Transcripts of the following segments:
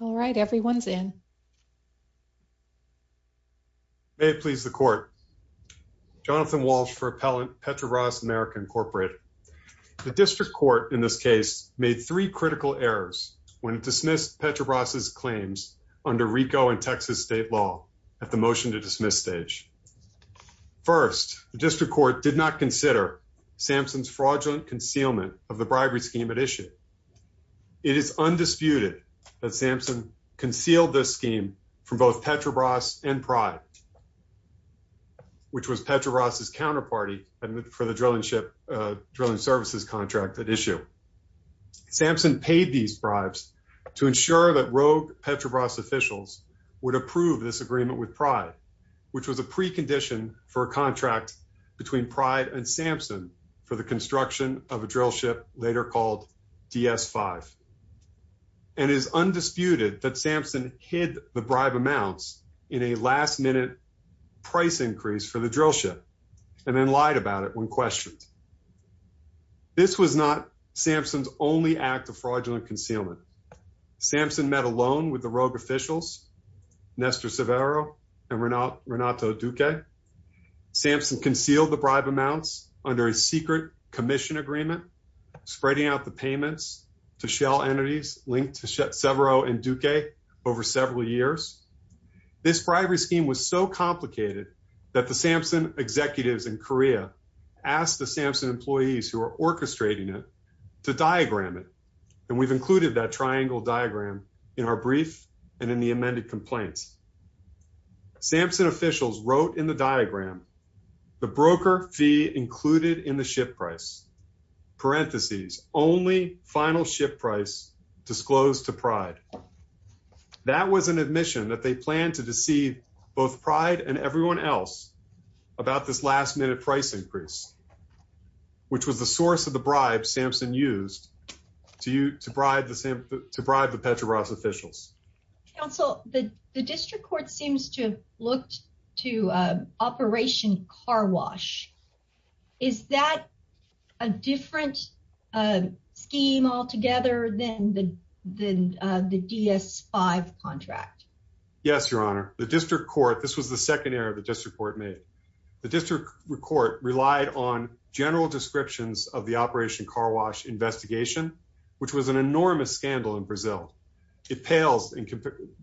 All right, everyone's in. May it please the court. Jonathan Walsh for Appellant Petrobras America Incorporated. The district court in this case made three critical errors when it dismissed Petrobras' claims under RICO and Texas state law at the motion to dismiss stage. First, the district court did not consider Samsung's fraudulent concealment of the bribery scheme it issued. It is undisputed that Samsung concealed this scheme from both Petrobras and Pride, which was Petrobras' counterparty for the drilling services contract at issue. Samsung paid these bribes to ensure that rogue Petrobras officials would approve this agreement with Pride, which was a precondition for a contract between Pride and Samsung for the DS5. And it is undisputed that Samsung hid the bribe amounts in a last-minute price increase for the drill ship and then lied about it when questioned. This was not Samsung's only act of fraudulent concealment. Samsung met alone with the rogue officials, Nestor Severo and Renato Duque. Samsung concealed the bribe amounts under a secret commission agreement, spreading out the payments to shell entities linked to Severo and Duque over several years. This bribery scheme was so complicated that the Samsung executives in Korea asked the Samsung employees who were orchestrating it to diagram it. And we've included that triangle diagram in our brief and in the amended complaints. Samsung officials wrote in the diagram the broker fee included in the ship price, parentheses, only final ship price disclosed to Pride. That was an admission that they planned to deceive both Pride and everyone else about this last-minute price increase, which was the source of the bribe Samsung used to bribe the Petrobras officials. Counsel, the district court seems to have looked to Operation Car Wash. Is that a different scheme altogether than the DS-5 contract? Yes, Your Honor. The district court, this was the second error the district court made. The district court relied on general descriptions of the Operation Car Wash investigation, which was an enormous scandal in Brazil.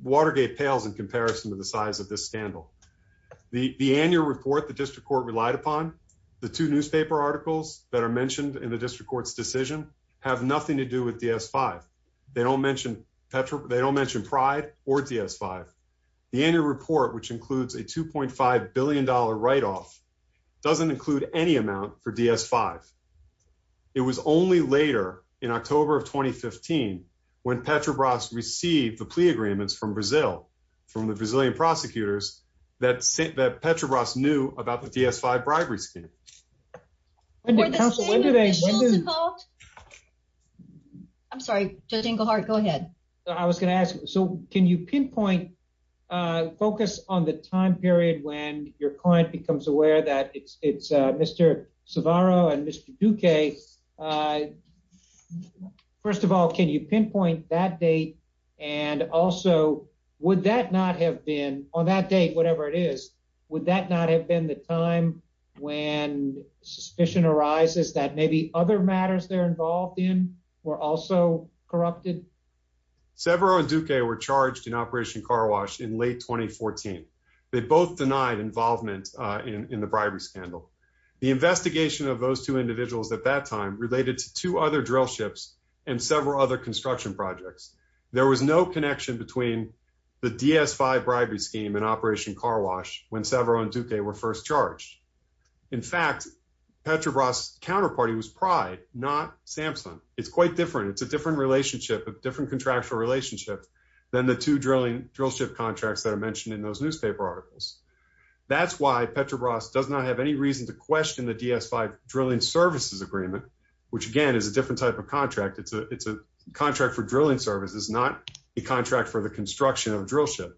Watergate pales in comparison to the size of this scandal. The annual report the district court relied upon, the two newspaper articles that are mentioned in the district court's decision, have nothing to do with DS-5. They don't mention Pride or DS-5. The annual report, which includes a $2.5 billion write-off, doesn't include any amount for DS-5. It was only later, in October of 2015, when Petrobras received the plea agreements from Brazil, from the Brazilian prosecutors, that Petrobras knew about the DS-5 bribery scheme. I'm sorry, Judge Engelhardt, go ahead. I was going to ask, so can you pinpoint, focus on the time period when your client becomes aware that it's Mr. Sevarro and Mr. Duque. First of all, can you pinpoint that date? And also, would that not have been, on that date, whatever it is, would that not have been the time when suspicion arises that maybe other matters they're involved in were also corrupted? Sevarro and Duque were charged in Operation Car Wash in late 2014. They both denied involvement in the bribery scandal. The investigation of those two individuals at that time related to two other drill ships and several other construction projects. There was no connection between the DS-5 bribery scheme and Operation Car Wash when Sevarro and Duque were first charged. In fact, Petrobras' counterparty was Pride, not Samson. It's quite different. It's a different contractual relationship than the two drill ship contracts that are mentioned in those newspaper articles. That's why Petrobras does not have any reason to question the DS-5 drilling services agreement, which again is a different type of contract. It's a contract for drilling services, not a contract for the construction of a drill ship.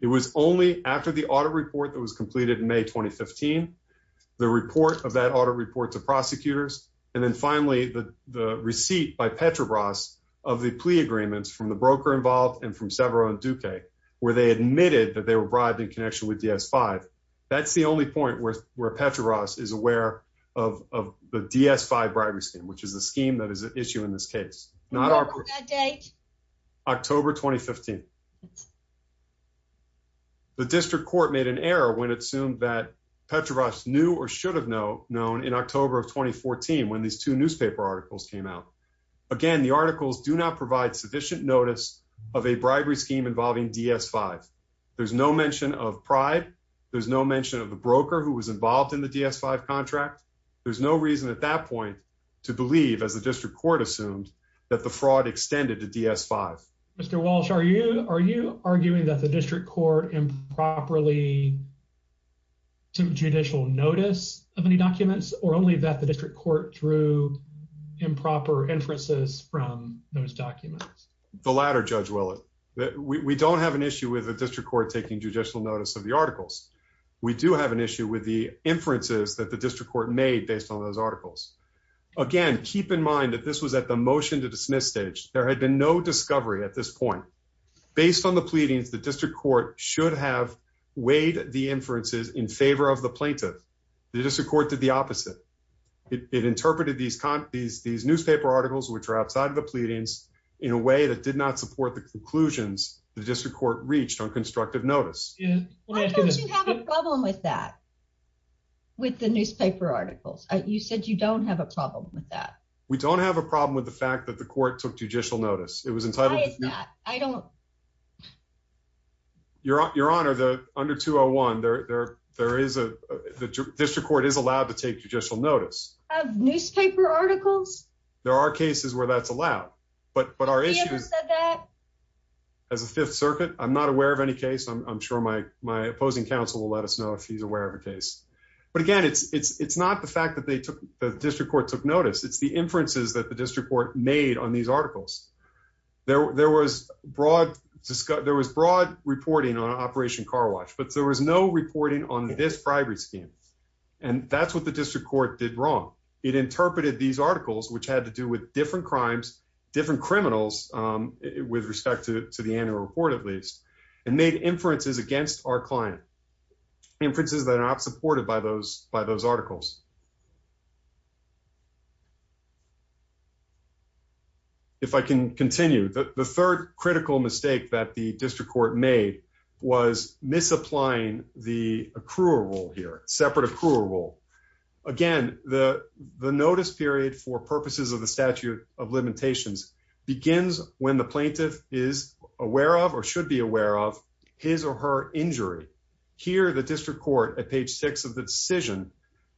It was only after the audit report that was completed in May 2015, the report of that audit report to prosecutors, and then finally the receipt by Petrobras of the plea agreements from the broker involved and from Sevarro and Duque, where they admitted that they were bribed in connection with DS-5. That's the only point where Petrobras is aware of the DS-5 bribery scheme, which is the scheme that is at issue in this case. October 2015. The district court made an error when it assumed that Petrobras knew or should have known in when these two newspaper articles came out. Again, the articles do not provide sufficient notice of a bribery scheme involving DS-5. There's no mention of Pride. There's no mention of the broker who was involved in the DS-5 contract. There's no reason at that point to believe, as the district court assumed, that the fraud extended to DS-5. Mr. Walsh, are you arguing that the district court improperly took judicial notice of any documents, or only that the district court drew improper inferences from those documents? The latter, Judge Willett. We don't have an issue with the district court taking judicial notice of the articles. We do have an issue with the inferences that the district court made based on those articles. Again, keep in mind that this was at the motion-to-dismiss stage. There had been no discovery at this point. Based on the pleadings, the district court should have weighed the inferences in favor of the plaintiff. The district court did the opposite. It interpreted these newspaper articles, which are outside of the pleadings, in a way that did not support the conclusions the district court reached on constructive notice. Why don't you have a problem with that, with the newspaper articles? You said you don't have a problem with that. We don't have a problem with the fact that the court took your honor the under 201 there there there is a the district court is allowed to take judicial notice of newspaper articles there are cases where that's allowed but but our issues as a fifth circuit i'm not aware of any case i'm sure my my opposing counsel will let us know if he's aware of a case but again it's it's it's not the fact that they took the district court took notice it's the inferences that the district court made on these articles there there was broad there was broad reporting on operation car wash but there was no reporting on this bribery scheme and that's what the district court did wrong it interpreted these articles which had to do with different crimes different criminals um with respect to to the annual report at least and made inferences against our client inferences that are not supported by those by the district court if i can continue the third critical mistake that the district court made was misapplying the accrual rule here separate accrual rule again the the notice period for purposes of the statute of limitations begins when the plaintiff is aware of or should be aware of his or her injury here the district court at page six of the decision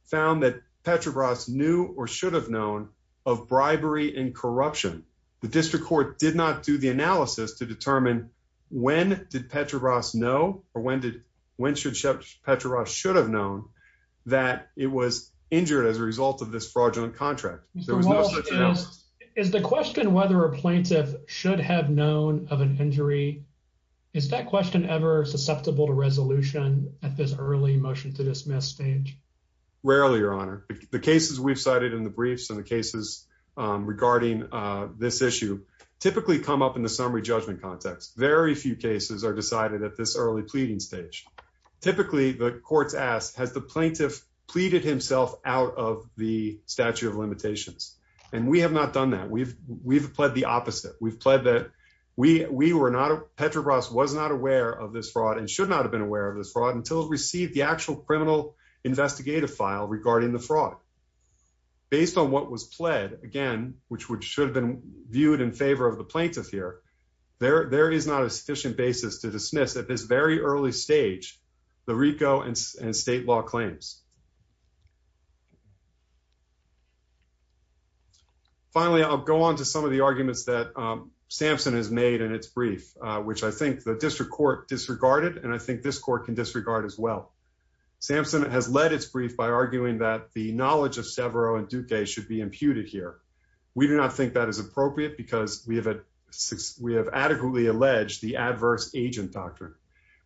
found that petrobras knew or should have known of bribery and corruption the district court did not do the analysis to determine when did petrobras know or when did when should petrobras should have known that it was injured as a result of this fraudulent contract there was no such is the question whether a plaintiff should have known of an injury is that question ever susceptible to resolution at this early motion to dismiss stage rarely your honor the cases we've cited in the briefs and the cases um regarding uh this issue typically come up in the summary judgment context very few cases are decided at this early pleading stage typically the courts asked has the plaintiff pleaded himself out of the statute of limitations and we have not done that we've we've pled the opposite we've pled that we we were not petrobras was not aware of this fraud and should not have been aware of this fraud until it received the based on what was pled again which would should have been viewed in favor of the plaintiff here there there is not a sufficient basis to dismiss at this very early stage the rico and state law claims finally i'll go on to some of the arguments that samson has made in its brief which i think the district court disregarded and i think this court can disregard as well samson has led its brief by should be imputed here we do not think that is appropriate because we have a we have adequately alleged the adverse agent doctrine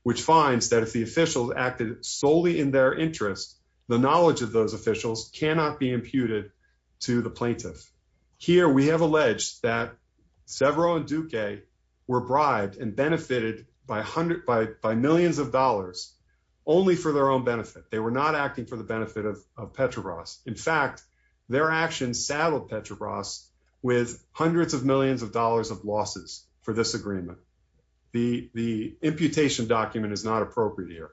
which finds that if the officials acted solely in their interest the knowledge of those officials cannot be imputed to the plaintiff here we have alleged that severo and duque were bribed and benefited by hundreds by by millions of dollars only for their own benefit they were not acting for the benefit of of petrobras in fact their actions saddled petrobras with hundreds of millions of dollars of losses for this agreement the the imputation document is not appropriate here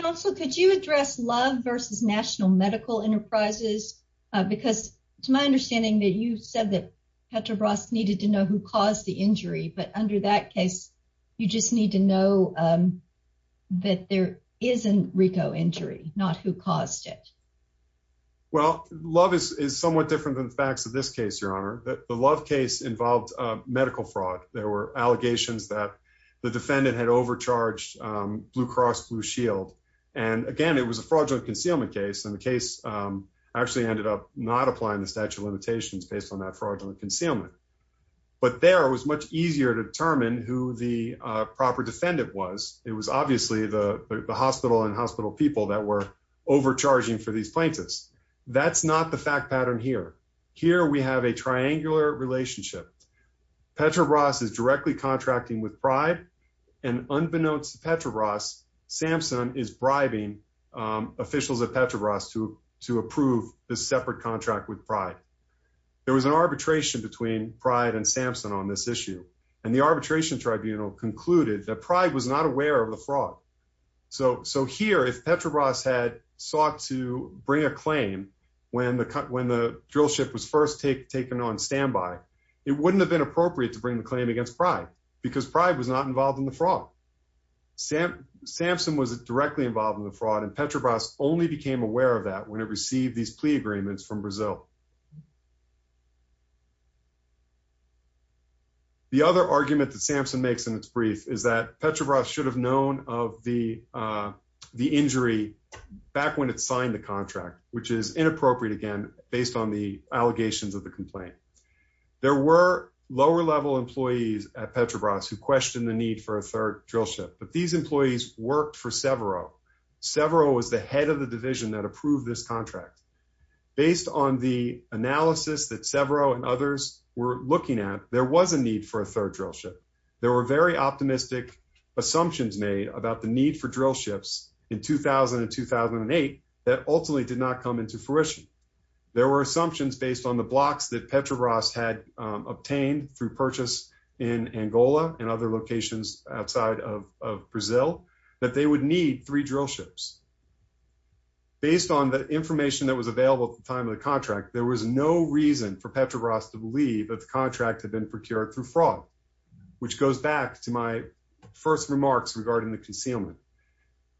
counsel could you address love versus national medical enterprises because it's my understanding that you said that petrobras needed to know who but under that case you just need to know um that there isn't rico injury not who caused it well love is is somewhat different than the facts of this case your honor that the love case involved uh medical fraud there were allegations that the defendant had overcharged um blue cross blue shield and again it was a fraudulent concealment case and the case um actually ended up not applying the statute of limitations based on that fraudulent concealment but there was much easier to determine who the uh proper defendant was it was obviously the hospital and hospital people that were overcharging for these plaintiffs that's not the fact pattern here here we have a triangular relationship petrobras is directly contracting with pride and unbeknownst to petrobras samson is bribing um officials at petrobras to to approve separate contract with pride there was an arbitration between pride and samson on this issue and the arbitration tribunal concluded that pride was not aware of the fraud so so here if petrobras had sought to bring a claim when the cut when the drill ship was first take taken on standby it wouldn't have been appropriate to bring the claim against pride because pride was not involved in the fraud sam samson was directly involved in the fraud and petrobras only became aware of that when it received these plea agreements from brazil the other argument that samson makes in its brief is that petrobras should have known of the uh the injury back when it signed the contract which is inappropriate again based on the allegations of the complaint there were lower level employees at petrobras who questioned the need for a third drill ship but these employees worked for severo severo was the head of the division that approved this contract based on the analysis that severo and others were looking at there was a need for a third drill ship there were very optimistic assumptions made about the need for drill ships in 2000 and 2008 that ultimately did not come into fruition there were assumptions based on the blocks that petrobras had obtained through purchase in angola and other locations outside of brazil that they would need three drill ships based on the information that was available at the time of the contract there was no reason for petrobras to believe that the contract had been procured through fraud which goes back to my first remarks regarding the concealment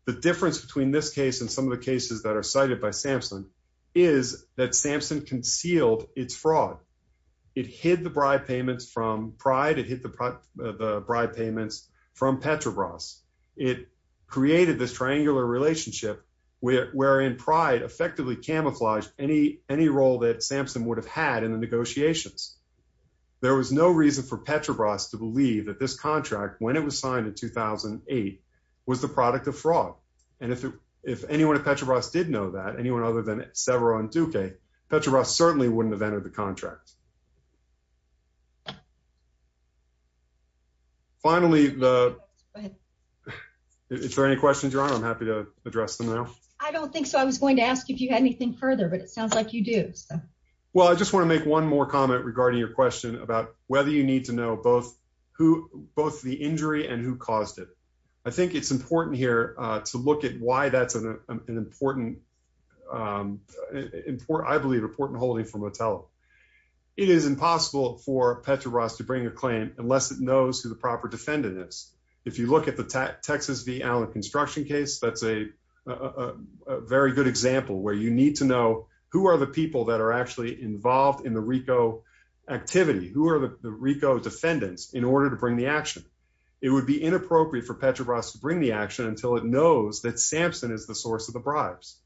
the difference between this case and some of the cases that are cited by samson is that samson concealed its fraud it hid the bribe payments from pride it hit the bribe payments from petrobras it created this triangular relationship where wherein pride effectively camouflaged any any role that samson would have had in the negotiations there was no reason for petrobras to believe that this contract when it was signed in 2008 was the product of fraud and if if anyone at petrobras did know that anyone other than severo and duque petrobras certainly wouldn't have entered the contract finally the if there are any questions your honor i'm happy to address them now i don't think so i was going to ask if you had anything further but it sounds like you do so well i just want to make one more comment regarding your question about whether you need to know both who both the injury and who caused it i think it's important here uh to look at why that's an important important i believe important holding for motel it is impossible for petrobras to bring a claim unless it knows who the proper defendant is if you look at the texas v allen construction case that's a a very good example where you need to know who are the people that are actually involved in the rico activity who are the rico defendants in order to bring the action it would be inappropriate for petrobras to bring the action until it knows that samson is the source of the bribes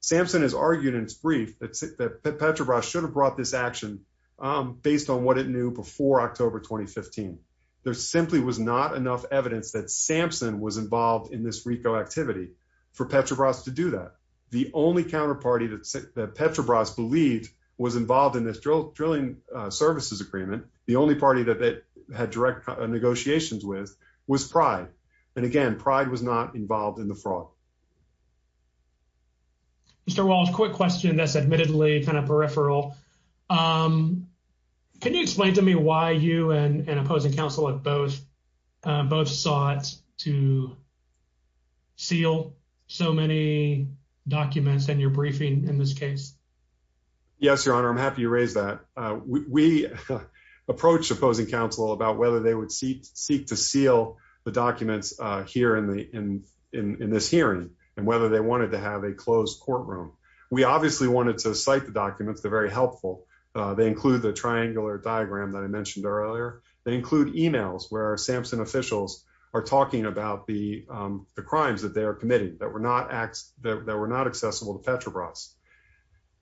samson has argued in its brief that petrobras should have brought this action based on what it knew before october 2015 there simply was not enough evidence that samson was involved in this rico activity for petrobras to do that the only counterparty that petrobras believed was involved in this drilling services agreement the only party that they had direct negotiations with was pride and again pride was not involved in the fraud mr walsh quick question that's admittedly kind of peripheral um can you explain to me why you and opposing counsel at both uh both sought to seal so many documents and your briefing in this case yes your honor i'm happy to raise that uh we approached opposing counsel about whether they would seek to seal the documents uh here in the in in this hearing and whether they wanted to have a closed courtroom we obviously wanted to cite the documents they're very helpful uh they include the triangular diagram that i mentioned earlier they include emails where samson officials are talking about the um the crimes that they are committing that were not acts that were not accessible to petrobras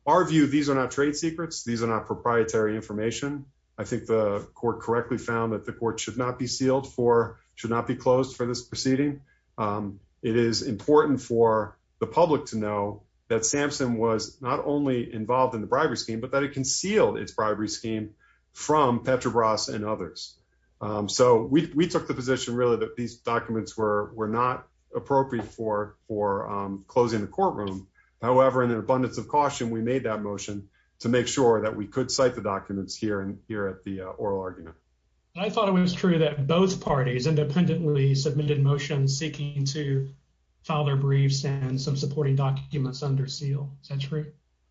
our view these are not trade secrets these are not proprietary information i think the court correctly found that the court should not be sealed for should not be closed for this proceeding um it is important for the public to know that samson was not only involved in the bribery scheme but that it concealed its bribery scheme from petrobras and others um so we we took the position really that these documents were were not appropriate for for um closing the courtroom however in an abundance of caution we made that motion to make sure that we could cite the documents here and here at the oral argument i thought it was true that both parties independently submitted motions seeking to file their briefs and some supporting documents under seal is that true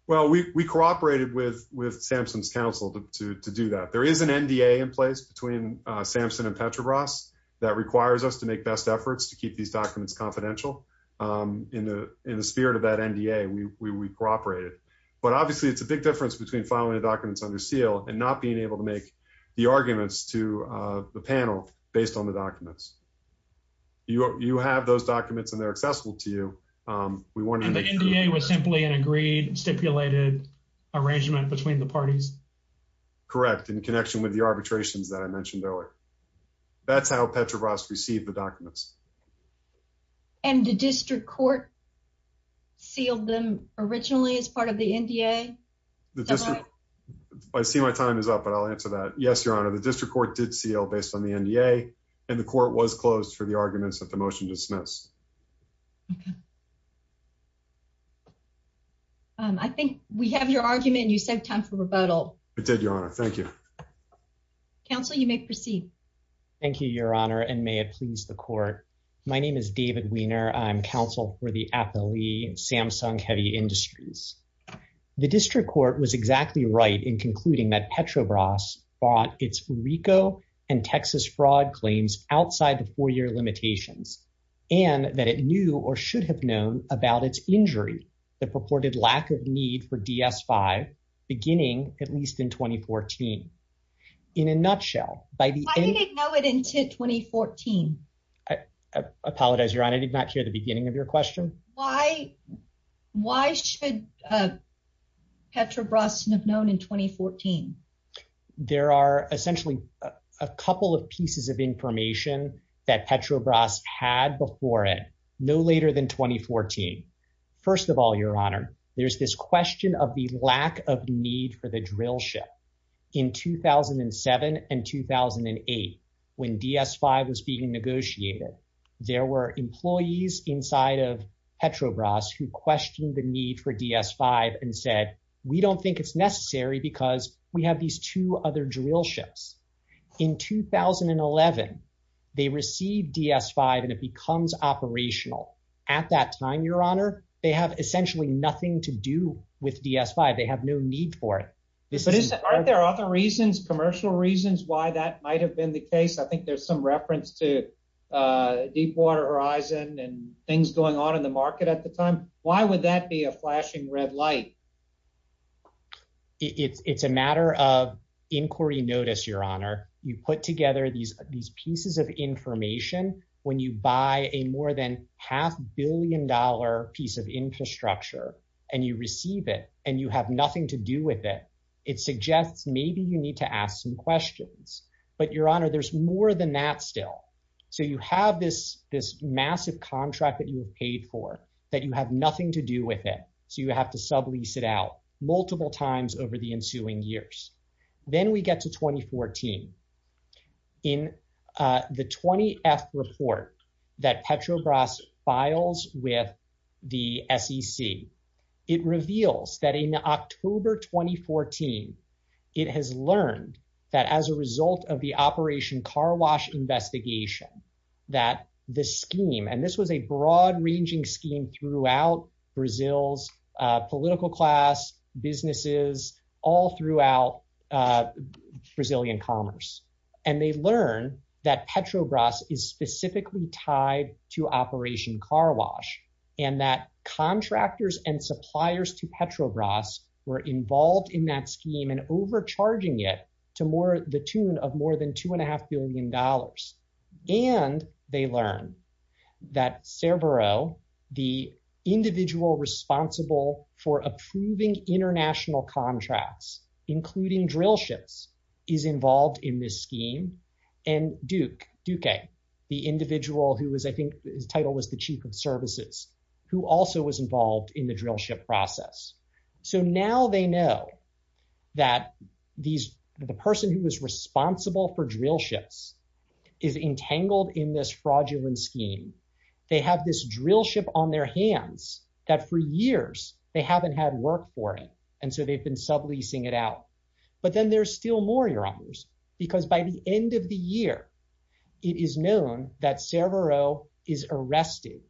well we we cooperated with with samson's counsel to to do that there is an nda in place between uh samson and petrobras that requires us to make best efforts to keep these documents confidential um in the in the spirit of that nda we we cooperated but obviously it's a big difference between filing the documents under seal and not being able to make the arguments to uh the panel based on the documents you you have those documents and they're accessible to you um we wanted the nda was simply an agreed stipulated arrangement between the parties correct in connection with the arbitrations that i mentioned earlier that's how petrobras received the documents and the district court sealed them originally as part of the nda the district i see my time is up but i'll answer that yes your honor the district court did seal based on the nda and the court was closed for the arguments that the motion dismissed okay um i think we have your argument you said time for it did your honor thank you counsel you may proceed thank you your honor and may it please the court my name is david wiener i'm counsel for the appellee samsung heavy industries the district court was exactly right in concluding that petrobras bought its ricoh and texas fraud claims outside the four-year limitations and that it knew or should have known about its injury the purported lack of need for ds5 beginning at least in 2014 in a nutshell by the end i didn't know it until 2014 i apologize your honor did not hear the beginning of your question why why should uh petrobras have known in 2014 there are essentially a couple of pieces of your honor there's this question of the lack of need for the drill ship in 2007 and 2008 when ds5 was being negotiated there were employees inside of petrobras who questioned the need for ds5 and said we don't think it's necessary because we have these two other drill ships in 2011 they received ds5 and it becomes operational at that time your honor they have essentially nothing to do with ds5 they have no need for it but isn't aren't there other reasons commercial reasons why that might have been the case i think there's some reference to uh deepwater horizon and things going on in the market at the time why would that be a flashing red light it's it's a matter of inquiry notice your honor you put together these these pieces of information when you buy a more than half billion dollar piece of infrastructure and you receive it and you have nothing to do with it it suggests maybe you need to ask some questions but your honor there's more than that still so you have this this massive contract that you have paid for that you have nothing to do with it so you have to sublease it out multiple times over ensuing years then we get to 2014 in uh the 20th report that petrobras files with the sec it reveals that in october 2014 it has learned that as a result of the operation car wash investigation that the scheme and this was a broad ranging scheme throughout brazil's uh political class businesses all throughout uh brazilian commerce and they learn that petrobras is specifically tied to operation car wash and that contractors and suppliers to petrobras were involved in that scheme and overcharging it to more the tune of more than two and a half billion dollars and they learn that cerbero the individual responsible for approving international contracts including drill ships is involved in this scheme and duke duque the individual who was i think his title was the chief of services who also was involved in the drill ship process so now they know that these the person who was responsible for drill ships is entangled in this fraudulent scheme they have this drill ship on their hands that for years they haven't had work for it and so they've been subleasing it out but then there's still more errors because by the end of the year it is known that cerbero is arrested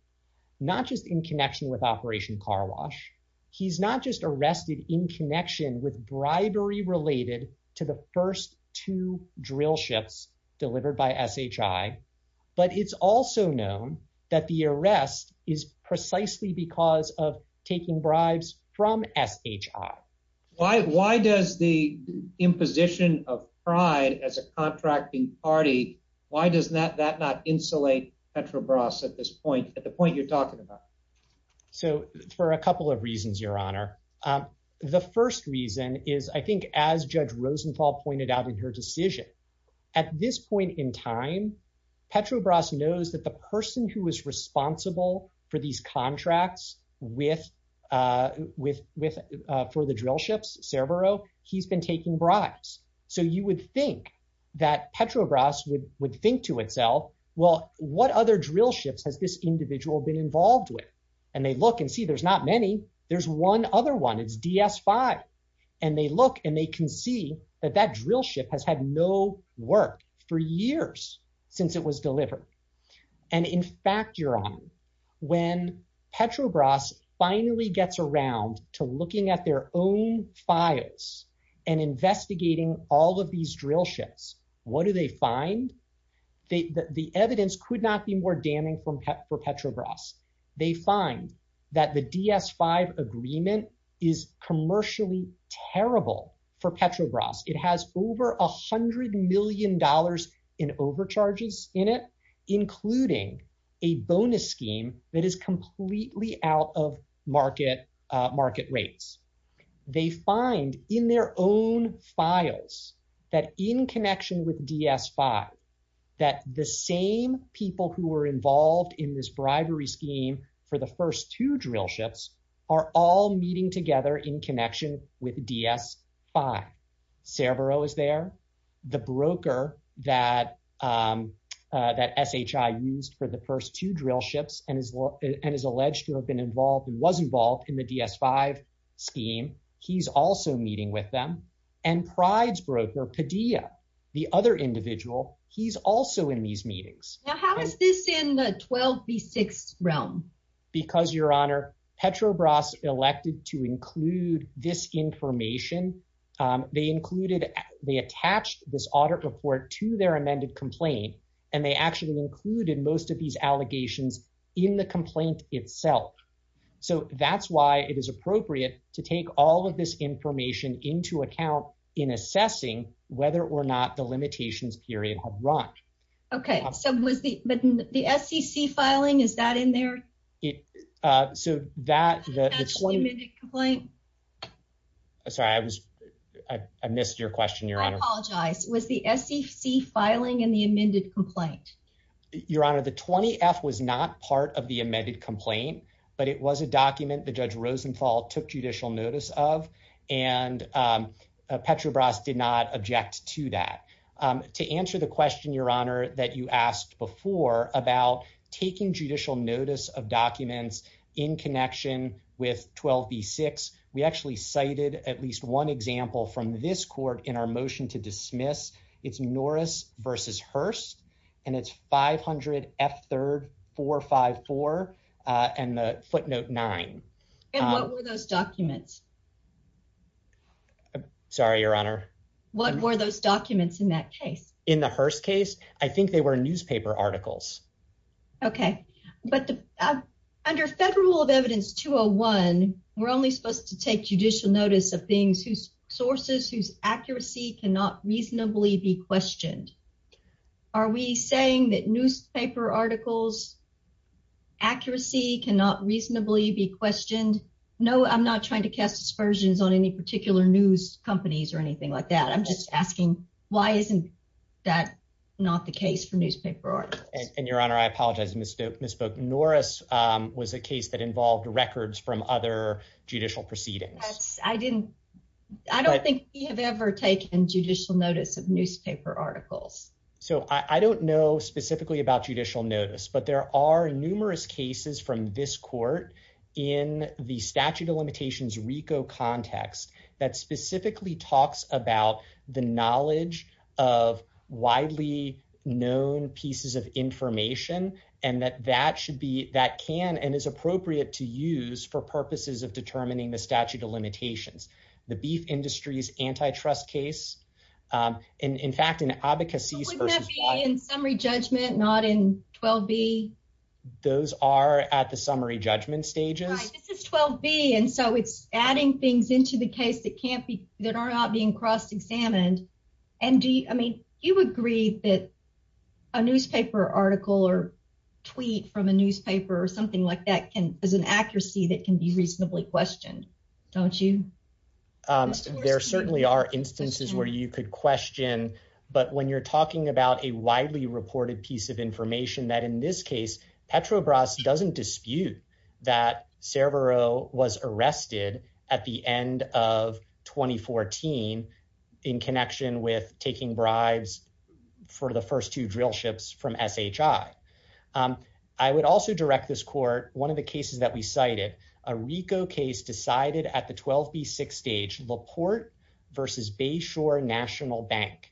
not just in connection with operation car wash he's not just arrested in connection with bribery related to the first two drill ships delivered by shi but it's also known that the arrest is precisely because of taking bribes from shi why why does the imposition of pride as a contracting party why does that that not insulate petrobras at this point at the point you're talking about so for a couple of reasons your honor the first reason is i think as judge rosenthal pointed out in her decision at this point in time petrobras knows that the person who was responsible for these contracts with uh with with uh for the drill ships cerbero he's been taking bribes so you would think that petrobras would would think to itself well what other drill ships has this individual been involved with and they look and see there's not many there's one other one it's ds5 and they look and they can see that that drill ship has had no work for years since it was delivered and in fact your honor when petrobras finally gets around to looking at their own files and investigating all of these drill ships what do they find they the evidence could not be more damning from pet for petrobras they find that the ds5 agreement is commercially terrible for petrobras it has over a hundred million dollars in overcharges in it including a bonus that is completely out of market uh market rates they find in their own files that in connection with ds5 that the same people who were involved in this bribery scheme for the first two drill ships are all meeting together in connection with ds5 cerbero is there the broker that um that shi used for the first two drill ships and is and is alleged to have been involved and was involved in the ds5 scheme he's also meeting with them and prides broker padilla the other individual he's also in these meetings now how is this in the 12 v6 realm because your honor petrobras elected to include this information um they included they attached this audit report to their amended complaint and they actually included most of these allegations in the complaint itself so that's why it is appropriate to take all of this information into account in assessing whether or not the limitations period have run okay so was the but the scc filing is that in there it uh so that that's one minute complaint sorry i was i missed your question your honor i apologize was the scc filing in the amended complaint your honor the 20 f was not part of the amended complaint but it was a document the judge rosenthal took judicial notice of and um petrobras did not object to that um to answer the question your honor that you asked before about taking judicial notice of documents in connection with 12 v6 we actually cited at least one example from this court in our motion to dismiss it's norris versus hearst and it's 500 f third 454 and the footnote nine and what were those documents sorry your honor what were those documents in that case in the hearst case i think they were newspaper articles okay but the under federal rule of evidence 201 we're only supposed to take judicial notice of things whose sources whose accuracy cannot reasonably be questioned are we saying that newspaper articles accuracy cannot reasonably be questioned no i'm not trying to cast aspersions on any particular news companies or anything like that i'm just asking why isn't that not the case for newspaper articles and your honor i apologize miss misspoke norris um was a case that involved records from other judicial proceedings i didn't i don't think we have ever taken judicial notice of newspaper articles so i i don't know specifically about judicial notice but there are numerous cases from this court in the statute of limitations context that specifically talks about the knowledge of widely known pieces of information and that that should be that can and is appropriate to use for purposes of determining the statute of limitations the beef industry's antitrust case um and in fact in advocacy in summary judgment not in 12b those are at the summary judgment stages this is 12b and so it's adding things into the case that can't be that are not being cross-examined and do you i mean you agree that a newspaper article or tweet from a newspaper or something like that can as an accuracy that can be reasonably questioned don't you um there certainly are instances where you could question but when you're talking about a widely reported piece of information that in this case petrobras doesn't dispute that servo was arrested at the end of 2014 in connection with taking bribes for the first two drill ships from shi um i would also direct this court one of the cases that we cited a rico case decided at the 12b6 stage laporte versus bayshore national bank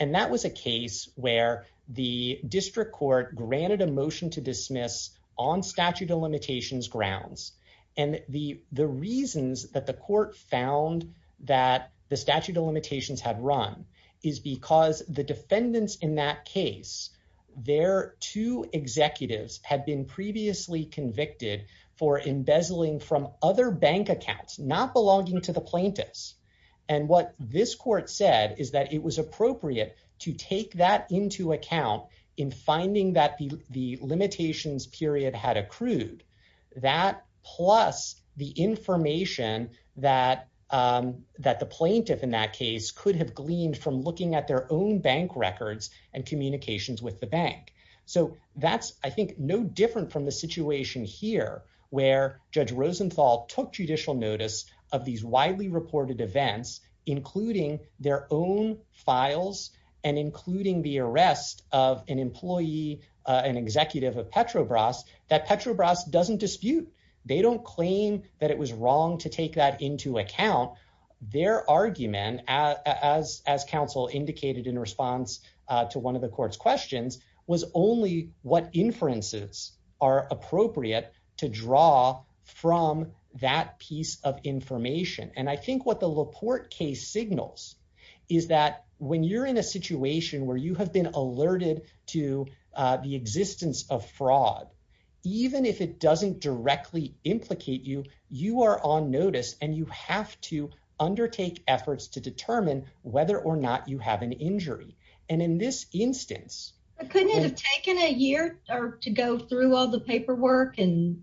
and that was a case where the district court granted a motion to dismiss on statute of limitations grounds and the the reasons that the court found that the statute of limitations had run is because the defendants in that case their two executives had been previously convicted for embezzling from other bank accounts not belonging to the plaintiffs and what this court said is that it was appropriate to take that into account in finding that the the limitations period had accrued that plus the information that um that the plaintiff in that case could have gleaned from looking at their own bank records and communications with the bank so that's i think no different from the situation here where judge rosenthal took judicial notice of these widely reported events including their own files and including the arrest of an employee an executive of petrobras that petrobras doesn't dispute they don't claim that it was wrong to take that into account their argument as as counsel indicated in response to one of the court's was only what inferences are appropriate to draw from that piece of information and i think what the laporte case signals is that when you're in a situation where you have been alerted to the existence of fraud even if it doesn't directly implicate you you are on notice and you have to couldn't have taken a year or to go through all the paperwork and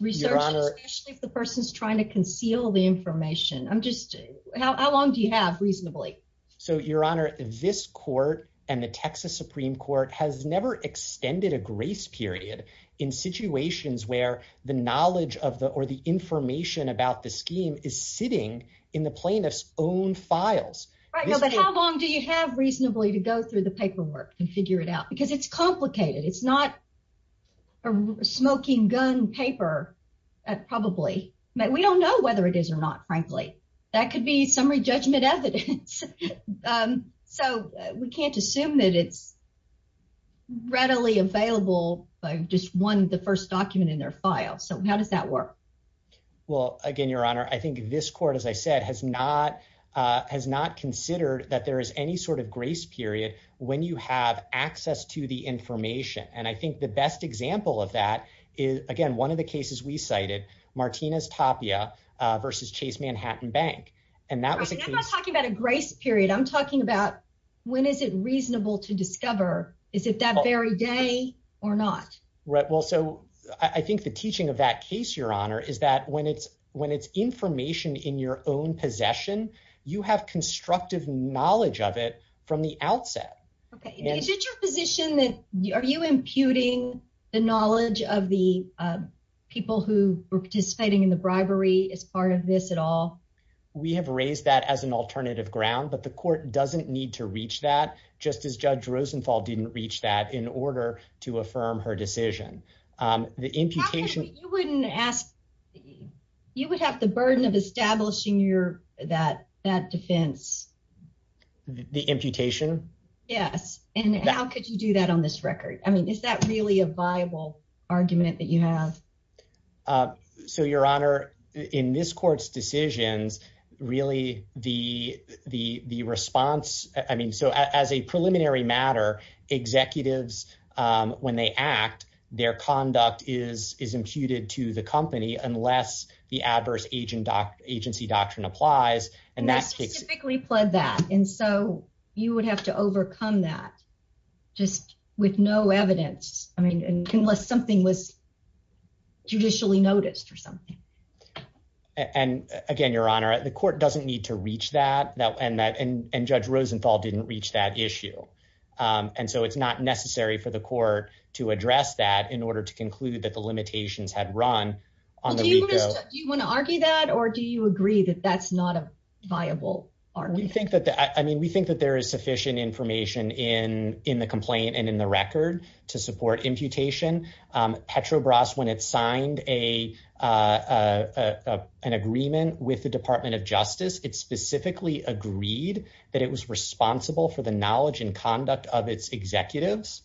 research especially if the person's trying to conceal the information i'm just how long do you have reasonably so your honor this court and the texas supreme court has never extended a grace period in situations where the knowledge of the or the information about the scheme is sitting in the plaintiff's own files how long do you have reasonably to go through the paperwork and figure it out because it's complicated it's not a smoking gun paper probably we don't know whether it is or not frankly that could be summary judgment evidence um so we can't assume that it's readily available by just one the first document in their file so how does that work well again your honor i think this court as i said has not uh has not considered that there is any sort of grace period when you have access to the information and i think the best example of that is again one of the cases we cited martina's tapia uh versus chase manhattan bank and that was i'm not talking about a grace period i'm talking about when is it reasonable to discover is it that very day or not right well so i think the teaching of that case your honor is that when it's when it's information in your own possession you have constructive knowledge of it from the outset okay is it your position that are you imputing the knowledge of the people who were participating in the bribery as part of this at all we have raised that as an alternative ground but the court doesn't need to reach that just as judge rosenthal didn't reach that in order to affirm her decision um the imputation you wouldn't ask you would have the burden of establishing your that that defense the imputation yes and how could you do that on this record i mean is that really a viable argument that you have uh so your honor in this court's um when they act their conduct is is imputed to the company unless the adverse agent doc agency doctrine applies and that's typically pled that and so you would have to overcome that just with no evidence i mean unless something was judicially noticed or something and again your honor the court doesn't need to reach that that and that and judge rosenthal didn't reach that issue um and so it's not necessary for the court to address that in order to conclude that the limitations had run on do you want to argue that or do you agree that that's not a viable argument i mean we think that there is sufficient information in in the complaint and in the record to support imputation um petrobras when it signed a uh uh an agreement with the department of justice it specifically agreed that it was responsible for the knowledge and conduct of its executives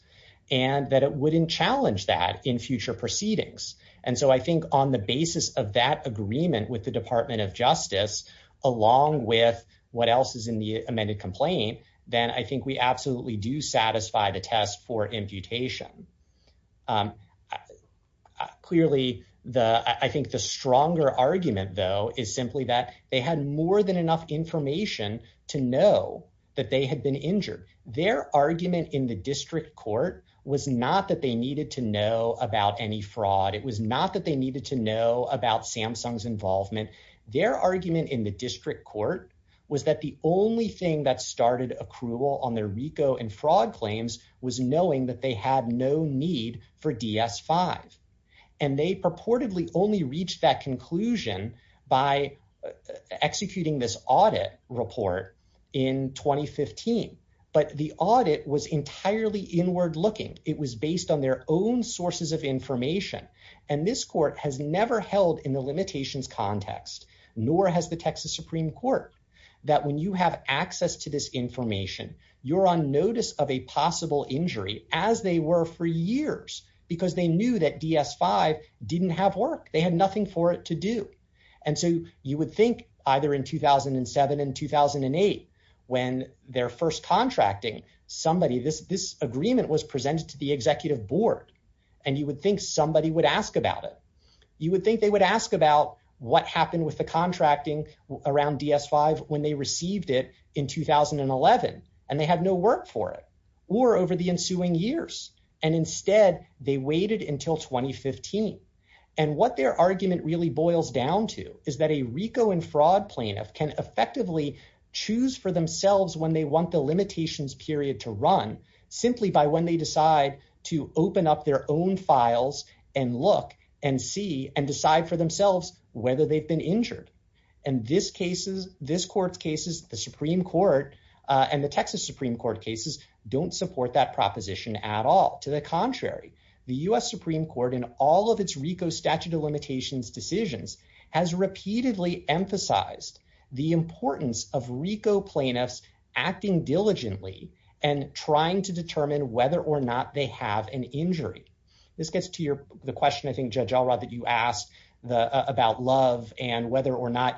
and that it wouldn't challenge that in future proceedings and so i think on the basis of that agreement with the department of justice along with what else is in the amended complaint then i think we absolutely do satisfy the test for imputation um clearly the i think the stronger argument though is simply that they had more than enough information to know that they had been injured their argument in the district court was not that they needed to know about any fraud it was not that they needed to know about samsung's involvement their argument in the district court was that the only thing that started accrual on their and fraud claims was knowing that they had no need for ds5 and they purportedly only reached that conclusion by executing this audit report in 2015 but the audit was entirely inward looking it was based on their own sources of information and this court has never held in the limitations context nor has the texas supreme court that when you have access to this information you're on notice of a possible injury as they were for years because they knew that ds5 didn't have work they had nothing for it to do and so you would think either in 2007 and 2008 when their first contracting somebody this this agreement was presented to the executive board and you would think somebody would ask about it you would think they would ask about what happened with the or over the ensuing years and instead they waited until 2015 and what their argument really boils down to is that a rico and fraud plaintiff can effectively choose for themselves when they want the limitations period to run simply by when they decide to open up their own files and look and see and decide for themselves whether they've been injured and this cases this court's cases the court uh and the texas supreme court cases don't support that proposition at all to the contrary the u.s supreme court in all of its rico statute of limitations decisions has repeatedly emphasized the importance of rico plaintiffs acting diligently and trying to determine whether or not they have an injury this gets to your the question i think judge all right that you asked the about love and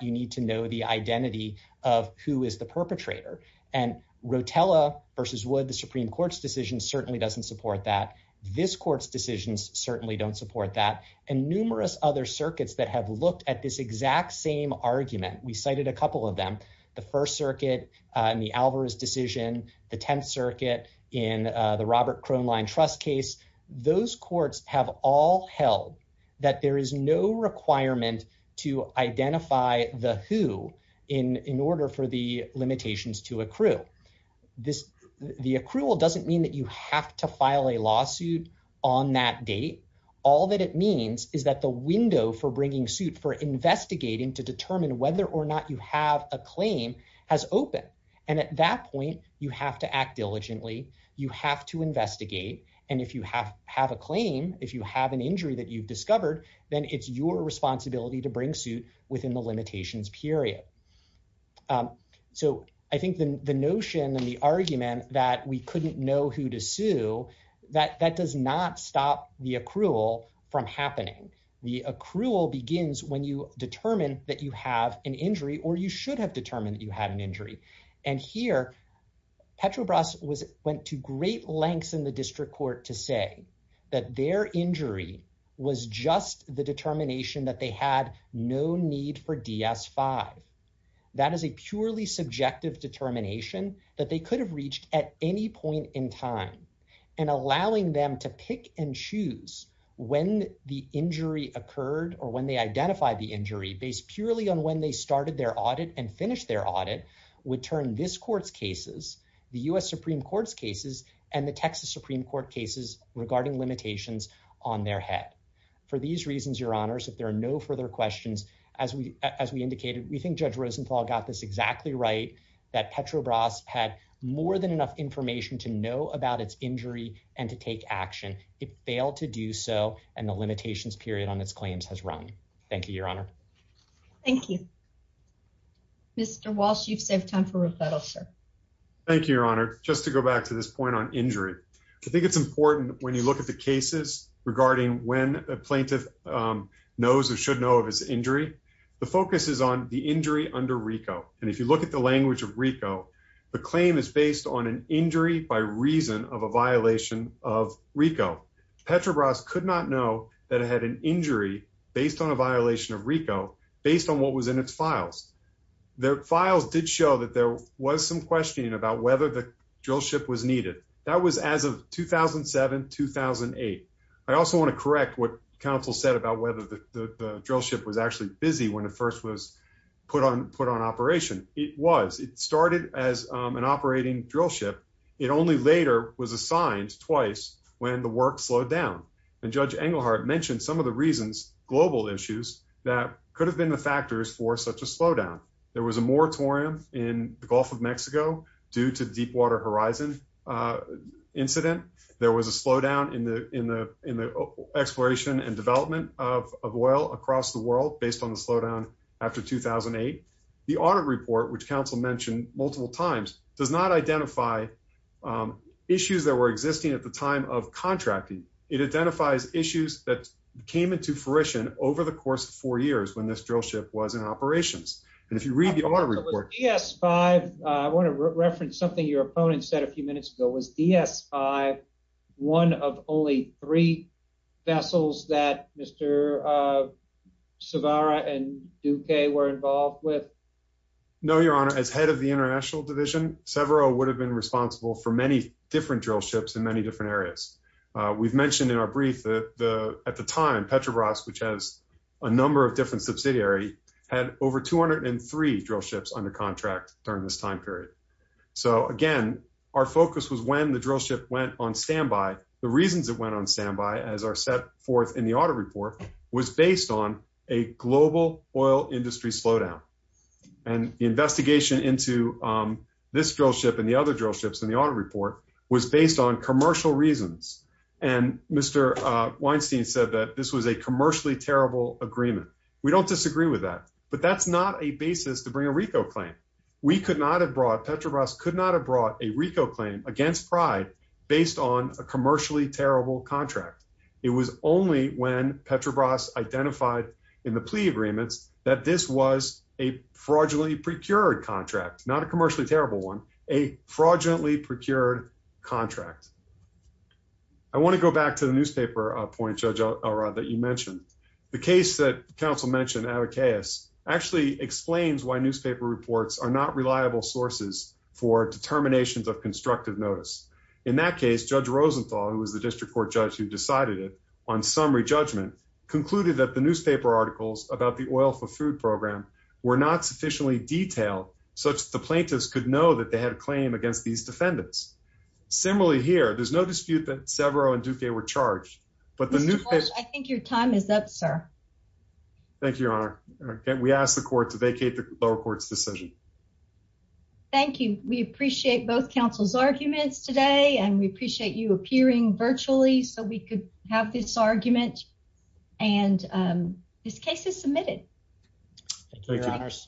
you need to know the identity of who is the perpetrator and rotella versus wood the supreme court's decision certainly doesn't support that this court's decisions certainly don't support that and numerous other circuits that have looked at this exact same argument we cited a couple of them the first circuit and the alvarez decision the 10th circuit in the robert crone line trust those courts have all held that there is no requirement to identify the who in in order for the limitations to accrue this the accrual doesn't mean that you have to file a lawsuit on that date all that it means is that the window for bringing suit for investigating to determine whether or not you have a claim has opened and at that point you have to act diligently you have to investigate and if you have have a claim if you have an injury that you've discovered then it's your responsibility to bring suit within the limitations period so i think the the notion and the argument that we couldn't know who to sue that that does not stop the accrual from happening the accrual begins when you determine that you have an injury or you should have determined that you had an injury and here petrobras was went to great lengths in the district court to say that their injury was just the determination that they had no need for ds5 that is a purely subjective determination that they could have reached at any point in time and allowing them to pick and choose when the injury occurred or when they identify the injury based purely on when they started their audit and finished their audit would turn this court's cases the u.s supreme court's cases and the texas supreme court cases regarding limitations on their head for these reasons your honors if there are no further questions as we as we indicated we think judge rosenthal got this exactly right that petrobras had more than enough information to know about its injury and to take action it failed to do so and the limitations period on its claims has run thank you your honor thank you mr walsh you've saved time for rebuttal sir thank you your honor just to go back to this point on injury i think it's important when you look at the cases regarding when a plaintiff knows or should know of his injury the focus is on the injury under rico and if you look at the language of rico the claim is based on an injury by reason of a violation of rico petrobras could not know that it had an injury based on a violation of rico based on what was in its files the files did show that there was some questioning about whether the drill ship was needed that was as of 2007 2008 i also want to correct what counsel said about whether the drill ship was actually busy when it first was put on put on operation it was it started as an operating drill ship it only later was assigned twice when the work slowed down and judge engelhardt mentioned some of the reasons global issues that could have been the factors for such a slowdown there was a moratorium in the gulf of mexico due to deepwater horizon uh incident there was a slowdown in the in the in the exploration and development of of oil across the world based on the slowdown after 2008 the audit report which counsel mentioned multiple times does not identify issues that were existing at the time of contracting it identifies issues that came into fruition over the course of four years when this drill ship was in operations and if you read the audit report yes five i want to reference something your opponent said a few minutes ago was ds5 one of only three vessels that mr uh savara and duque were involved with no your honor as head of the international division several would have been responsible for many different drill ships in many different areas we've mentioned in our brief that the at the time petrobras which has a number of different subsidiary had over 203 drill ships under contract during this time period so again our focus was when the drill ship went on standby the reasons it went on standby as are set forth in the audit report was based on a global oil industry slowdown and the investigation into um this drill ship and the other drill ships in the audit report was based on commercial reasons and mr uh weinstein said that this was a commercially terrible agreement we don't disagree with that but that's not a basis to bring a rico claim we could not have brought petrobras could not have brought a rico claim against pride based on a commercially terrible contract it was only when petrobras identified in the plea agreements that this was a fraudulently procured contract not a commercially terrible one a fraudulently procured contract i want to go back to the newspaper uh point judge elrod that you mentioned the case that council mentioned abacus actually explains why newspaper reports are not reliable sources for determinations of constructive notice in that case judge rosenthal who was the district court judge who decided it on summary judgment concluded that the newspaper articles about the oil for food program were not sufficiently detailed such the plaintiffs could know that they had a claim against these defendants similarly here there's no dispute that severo and duque were charged but the new i think your time is up sir thank you your honor again we asked the lower courts decision thank you we appreciate both council's arguments today and we appreciate you appearing virtually so we could have this argument and um this case is submitted thank you